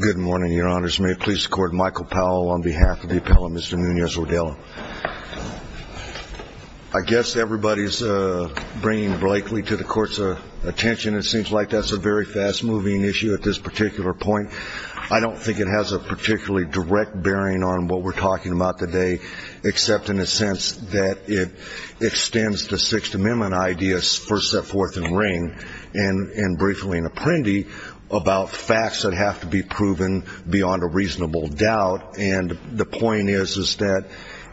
Good morning, your honors. May it please the court, Michael Powell on behalf of the appellate, Mr. Numez-Rodelo. I guess everybody's bringing Blakely to the court's attention. It seems like that's a very fast-moving issue at this particular point. I don't think it has a particularly direct bearing on what we're talking about today, except in the sense that it extends the Sixth Amendment ideas, first, set, fourth, and ring, and briefly in Apprendi, about facts that have to be proven beyond a reasonable doubt. And the point is that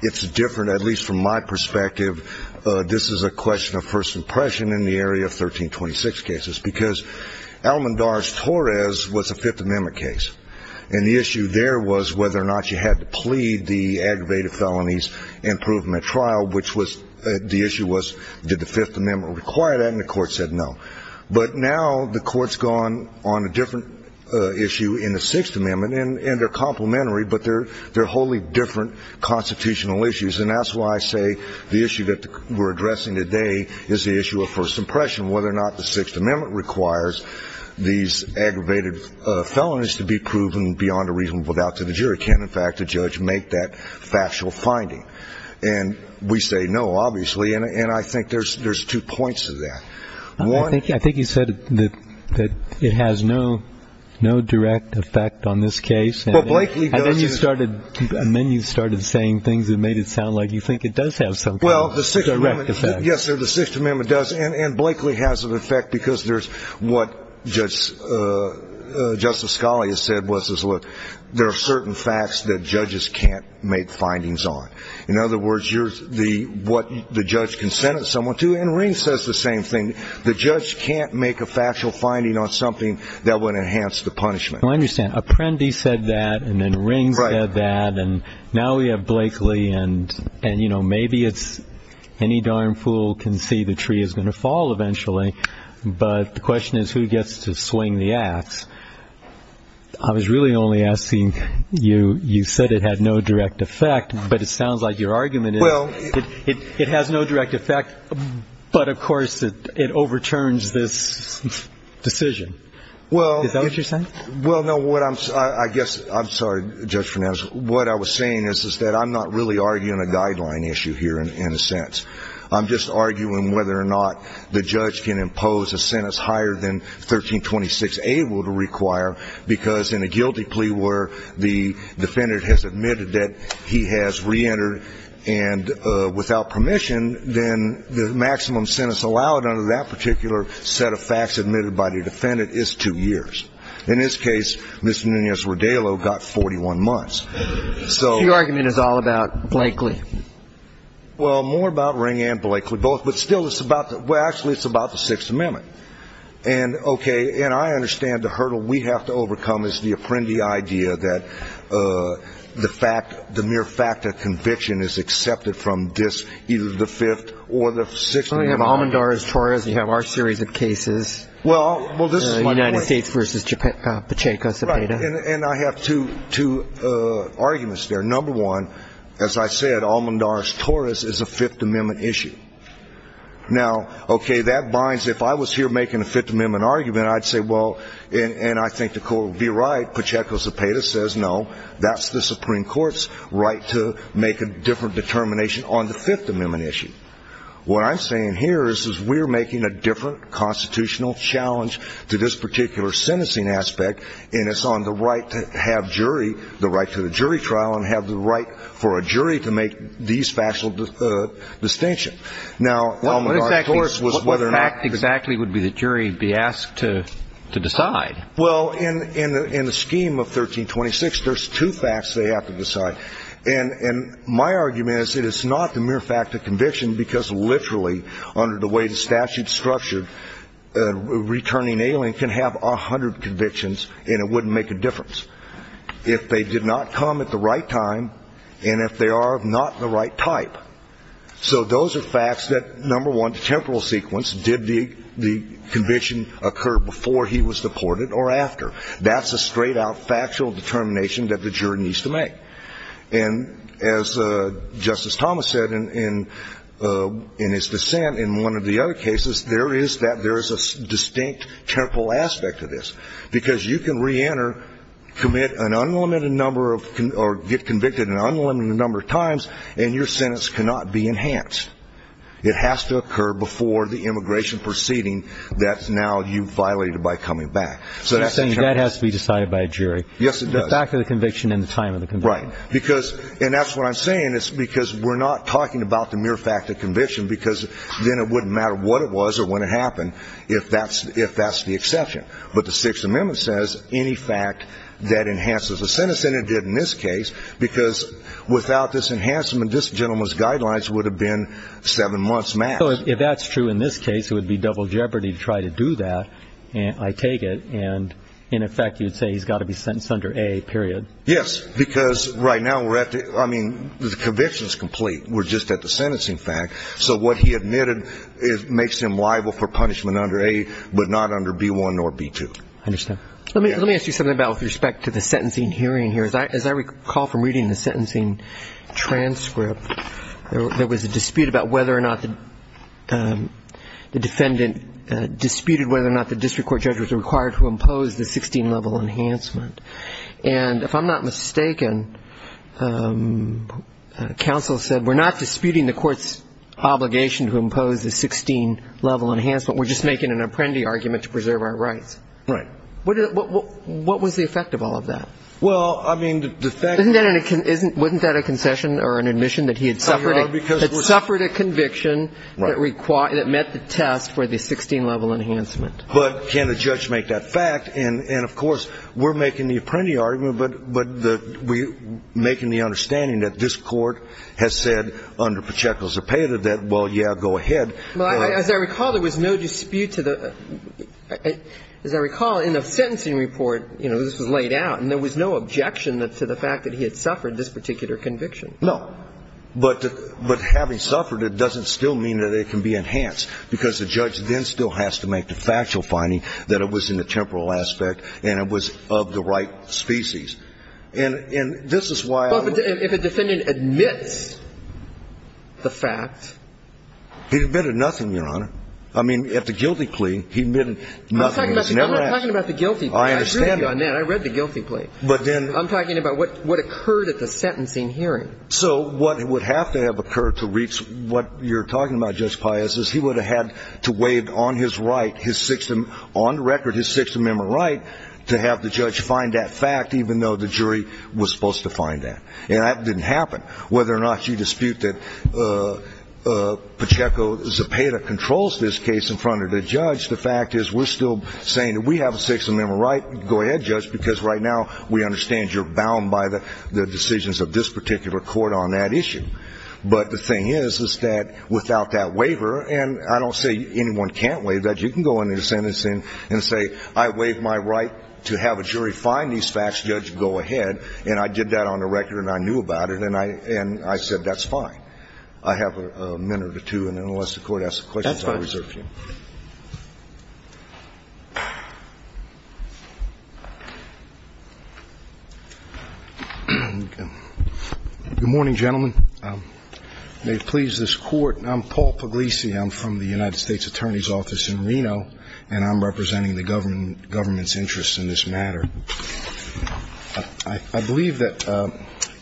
it's different, at least from my perspective. This is a question of first impression in the area of 1326 cases, because Alamondarz-Torres was a Fifth Amendment case. And the issue there was whether or not you had to plead the aggravated felonies and prove them at trial, which was the issue was did the Fifth Amendment require that, and the court said no. But now the court's gone on a different issue in the Sixth Amendment, and they're complementary, but they're wholly different constitutional issues. And that's why I say the issue that we're addressing today is the issue of first impression, whether or not the Sixth Amendment requires these aggravated felonies to be proven beyond a reasonable doubt to the jury. Can, in fact, a judge make that factual finding? And we say no, obviously, and I think there's two points to that. I think you said that it has no direct effect on this case. Well, Blakely does. And then you started saying things that made it sound like you think it does have some kind of direct effect. Yes, sir, the Sixth Amendment does, and Blakely has an effect because there's what Justice Scali has said, which is, look, there are certain facts that judges can't make findings on. In other words, what the judge can sentence someone to, and Ring says the same thing, the judge can't make a factual finding on something that would enhance the punishment. I understand. Apprendi said that, and then Ring said that, and now we have Blakely, and, you know, maybe it's any darn fool can see the tree is going to fall eventually, but the question is who gets to swing the ax. I was really only asking, you said it had no direct effect, but it sounds like your argument is it has no direct effect, but, of course, it overturns this decision. Is that what you're saying? Well, no, I guess, I'm sorry, Judge Fernandez, what I was saying is that I'm not really arguing a guideline issue here in a sense. I'm just arguing whether or not the judge can impose a sentence higher than 1326A, because in a guilty plea where the defendant has admitted that he has reentered and without permission, then the maximum sentence allowed under that particular set of facts admitted by the defendant is two years. In this case, Mr. Nunez-Rodallo got 41 months. So your argument is all about Blakely. Well, more about Ring and Blakely, both, but still it's about the, well, actually it's about the Sixth Amendment. And, okay, and I understand the hurdle we have to overcome is the apprendee idea that the mere fact of conviction is accepted from this, either the Fifth or the Sixth Amendment. Well, you have Almendarez-Torres, you have our series of cases, United States v. Pacheco-Cepeda. Right, and I have two arguments there. Number one, as I said, Almendarez-Torres is a Fifth Amendment issue. Now, okay, that binds, if I was here making a Fifth Amendment argument, I'd say, well, and I think the Court would be right, Pacheco-Cepeda says, no, that's the Supreme Court's right to make a different determination on the Fifth Amendment issue. What I'm saying here is we're making a different constitutional challenge to this particular sentencing aspect, and it's on the right to have jury, the right to the jury trial and have the right for a jury to make these factual distinctions. Now, Almendarez-Torres was whether or not the jury would be asked to decide. Well, in the scheme of 1326, there's two facts they have to decide, and my argument is it is not the mere fact of conviction because literally, under the way the statute is structured, a returning alien can have 100 convictions and it wouldn't make a difference if they did not come at the right time and if they are not the right type. So those are facts that, number one, temporal sequence, did the conviction occur before he was deported or after. That's a straight-out factual determination that the jury needs to make. And as Justice Thomas said in his dissent in one of the other cases, there is a distinct temporal aspect to this It has to occur before the immigration proceeding that now you violated by coming back. So that's the challenge. So you're saying that has to be decided by a jury. Yes, it does. The fact of the conviction and the time of the conviction. Right. And that's what I'm saying is because we're not talking about the mere fact of conviction because then it wouldn't matter what it was or when it happened if that's the exception. But the Sixth Amendment says any fact that enhances a sentence, and it did in this case, because without this enhancement, this gentleman's guidelines would have been seven months max. So if that's true in this case, it would be double jeopardy to try to do that, I take it. And, in effect, you'd say he's got to be sentenced under A, period. Yes, because right now we're at the, I mean, the conviction is complete. We're just at the sentencing fact. So what he admitted makes him liable for punishment under A but not under B-1 nor B-2. I understand. Let me ask you something about with respect to the sentencing hearing here. Because as I recall from reading the sentencing transcript, there was a dispute about whether or not the defendant disputed whether or not the district court judge was required to impose the 16-level enhancement. And if I'm not mistaken, counsel said, we're not disputing the court's obligation to impose the 16-level enhancement, we're just making an apprendee argument to preserve our rights. Right. What was the effect of all of that? Well, I mean, the fact that we're making the apprendee argument, but we're making the understanding that this Court has said under Pacheco's opinion that, well, yeah, go ahead. Well, as I recall, there was no dispute to the – as I recall, in the sentencing report, you know, this was laid out, and there was no dispute to the fact that there was no objection to the fact that he had suffered this particular conviction. No. But having suffered it doesn't still mean that it can be enhanced, because the judge then still has to make the factual finding that it was in the temporal aspect and it was of the right species. And this is why I would – But if a defendant admits the fact – He admitted nothing, Your Honor. I mean, at the guilty plea, he admitted nothing. I'm not talking about the guilty plea. I agree with you on that. I read the guilty plea. But then – I'm talking about what occurred at the sentencing hearing. So what would have to have occurred to reach what you're talking about, Judge Paius, is he would have had to waive on his right his sixth – on record his Sixth Amendment right to have the judge find that fact, even though the jury was supposed to find that. And that didn't happen. Whether or not you dispute that Pacheco Zepeda controls this case in front of the judge, the fact is we're still saying that we have a Sixth Amendment right. Go ahead, Judge, because right now we understand you're bound by the decisions of this particular court on that issue. But the thing is, is that without that waiver – and I don't say anyone can't waive that. You can go into a sentence and say, I waive my right to have a jury find these facts. Judge, go ahead. And I did that on the record and I knew about it, and I said that's fine. I have a minute or two, and unless the Court asks a question, I'll reserve to you. Good morning, gentlemen. May it please this Court, I'm Paul Puglisi. I'm from the United States Attorney's Office in Reno, and I'm representing the government's interests in this matter. I believe that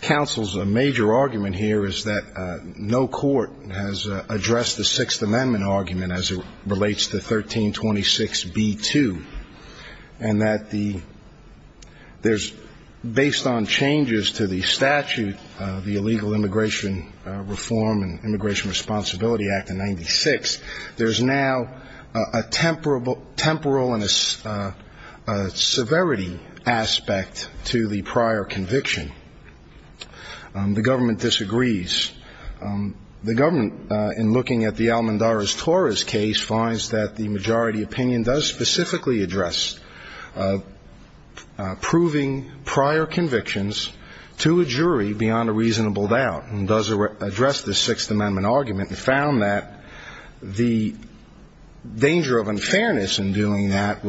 counsel's major argument here is that no court has addressed the Sixth Amendment argument as it relates to 1326b-2, and that there's, based on changes to the statute, the Illegal Immigration Reform and Immigration Responsibility Act of 1996, there's now a temporal and a severity aspect to the prior conviction. The government disagrees. The government, in looking at the Al-Mandaris-Torres case, finds that the majority opinion does specifically address proving prior convictions to a jury beyond a reasonable doubt and does address the Sixth Amendment argument and found that the danger of unfairness in doing that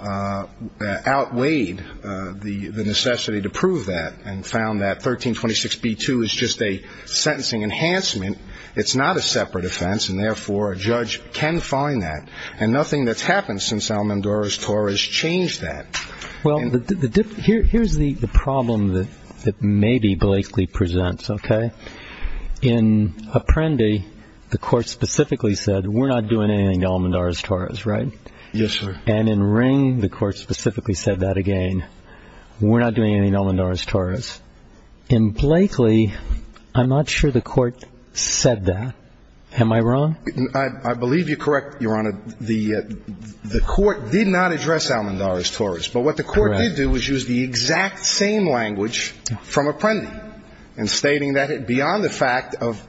outweighed the necessity to prove that and found that 1326b-2 is just a sentencing enhancement. It's not a separate offense, and therefore a judge can find that, and nothing that's happened since Al-Mandaris-Torres changed that. Well, here's the problem that maybe Blakely presents, okay? In Apprendi, the Court specifically said, we're not doing anything to Al-Mandaris-Torres, right? Yes, sir. And in Ring, the Court specifically said that again. We're not doing anything to Al-Mandaris-Torres. In Blakely, I'm not sure the Court said that. Am I wrong? I believe you're correct, Your Honor. The Court did not address Al-Mandaris-Torres. But what the Court did do was use the exact same language from Apprendi in stating that beyond the fact of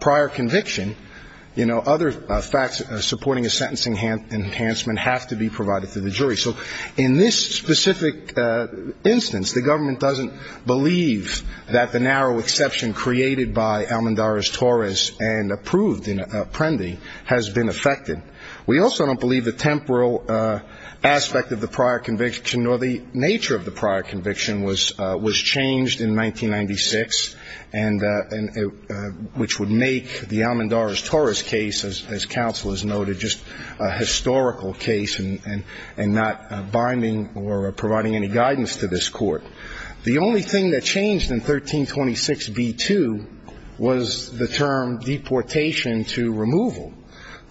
prior conviction, other facts supporting a sentencing enhancement have to be provided to the jury. So in this specific instance, the government doesn't believe that the narrow exception created by Al-Mandaris-Torres and approved in Apprendi has been affected. We also don't believe the temporal aspect of the prior conviction nor the nature of the prior conviction was changed in 1996, which would make the Al-Mandaris-Torres case, as counsel has noted, just a historical case and not binding or providing any guidance to this Court. The only thing that changed in 1326b-2 was the term deportation to removal.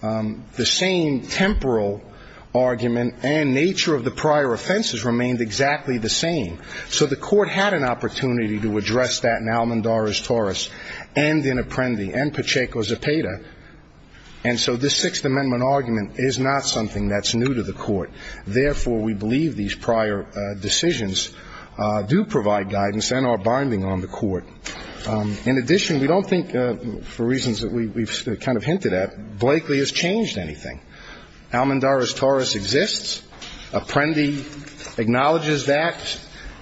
The same temporal argument and nature of the prior offenses remained exactly the same. So the Court had an opportunity to address that in Al-Mandaris-Torres and in Apprendi and Pacheco-Zapata. And so this Sixth Amendment argument is not something that's new to the Court. Therefore, we believe these prior decisions do provide guidance and are binding on the Court. In addition, we don't think, for reasons that we've kind of hinted at, Blakely has changed anything. Al-Mandaris-Torres exists. Apprendi acknowledges that.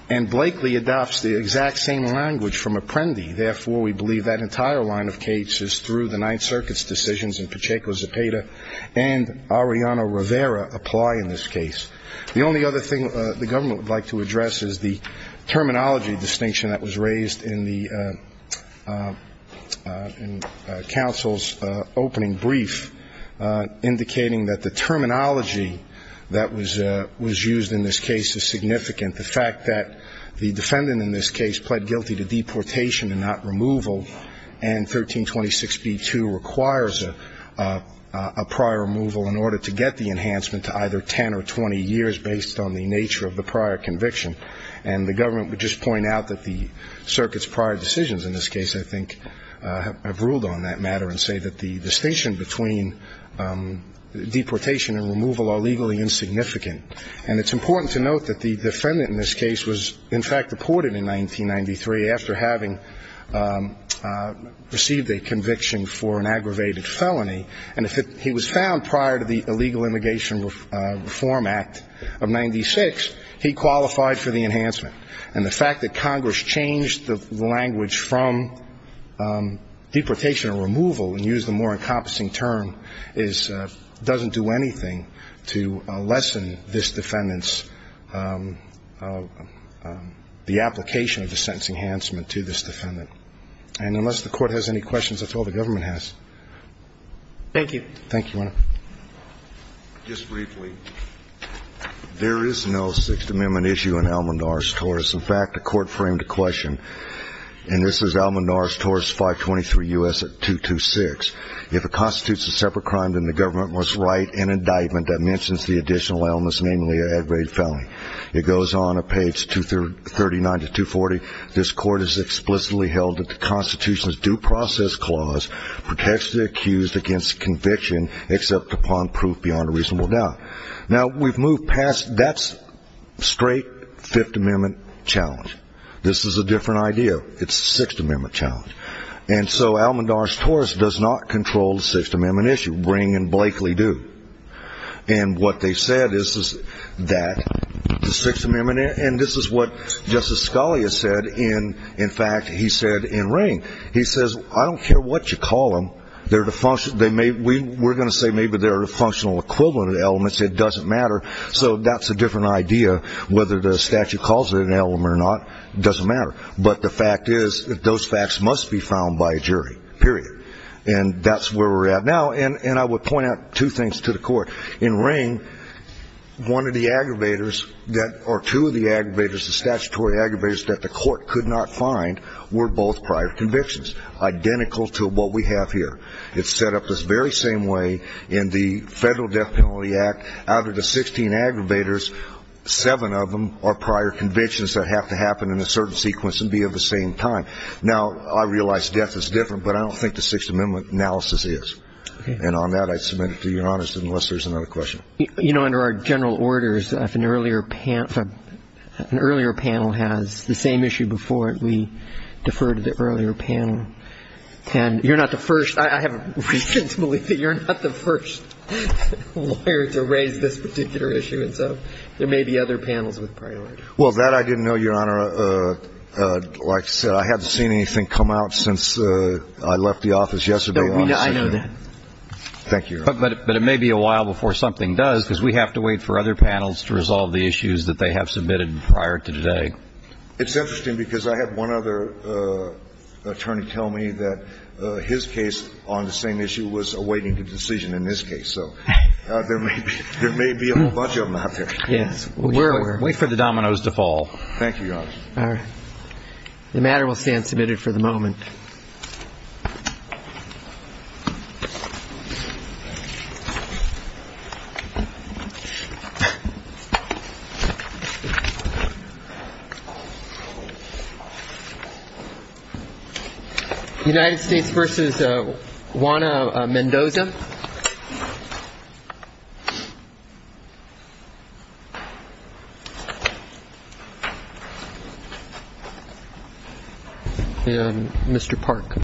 And Blakely adopts the exact same language from Apprendi. Therefore, we believe that entire line of cases through the Ninth Circuit's decisions in Pacheco-Zapata and Arellano-Rivera apply in this case. The only other thing the government would like to address is the terminology distinction that was raised in the counsel's opening brief, indicating that the terminology that was used in this case is significant, the fact that the defendant in this case pled guilty to deportation and not removal, and 1326b-2 requires a prior removal in order to get the enhancement to either 10 or 20 years, based on the nature of the prior conviction. And the government would just point out that the circuit's prior decisions in this case, I think, have ruled on that matter and say that the distinction between deportation and removal are legally insignificant. And it's important to note that the defendant in this case was, in fact, deported in 1993 after having received a conviction for an aggravated felony. And he was found prior to the Illegal Immigration Reform Act of 96. He qualified for the enhancement. And the fact that Congress changed the language from deportation and removal and used a more encompassing term is doesn't do anything to lessen this defendant's the application of the sentencing enhancement to this defendant. And unless the Court has any questions, that's all the government has. Thank you. Thank you, Your Honor. Just briefly, there is no Sixth Amendment issue in Almodnarez-Torres. In fact, the Court framed a question, and this is Almodnarez-Torres 523 U.S. 226. If it constitutes a separate crime, then the government must write an indictment that mentions the additional elements, namely an aggravated felony. It goes on at page 239 to 240. This Court has explicitly held that the Constitution's Due Process Clause protects the accused against conviction except upon proof beyond a reasonable doubt. Now, we've moved past that straight Fifth Amendment challenge. This is a different idea. It's a Sixth Amendment challenge. And so Almodnarez-Torres does not control the Sixth Amendment issue. Ring and Blakely do. And what they said is that the Sixth Amendment, and this is what Justice Scalia said, in fact, he said in Ring. He says, I don't care what you call them. We're going to say maybe they're a functional equivalent of the elements. It doesn't matter. So that's a different idea. Whether the statute calls it an element or not doesn't matter. But the fact is that those facts must be found by a jury, period. And that's where we're at now. And I would point out two things to the Court. In Ring, one of the aggravators or two of the aggravators, the statutory aggravators that the Court could not find, were both prior convictions, identical to what we have here. It's set up this very same way in the Federal Death Penalty Act. Out of the 16 aggravators, seven of them are prior convictions that have to happen in a certain sequence and be of the same time. Now, I realize death is different, but I don't think the Sixth Amendment analysis is. And on that, I submit it to Your Honors, unless there's another question. You know, under our general orders, if an earlier panel has the same issue before it, we defer to the earlier panel. And you're not the first. I have a recent belief that you're not the first lawyer to raise this particular issue. And so there may be other panels with prior. Well, that I didn't know, Your Honor. Like I said, I haven't seen anything come out since I left the office yesterday. I know that. Thank you. But it may be a while before something does because we have to wait for other panels to resolve the issues that they have submitted prior to today. It's interesting because I had one other attorney tell me that his case on the same issue was awaiting a decision in this case. So there may be a bunch of them out there. Yes. Wait for the dominoes to fall. Thank you, Your Honor. All right. The matter will stand submitted for the moment. United States versus Juana Mendoza. Mr. Park.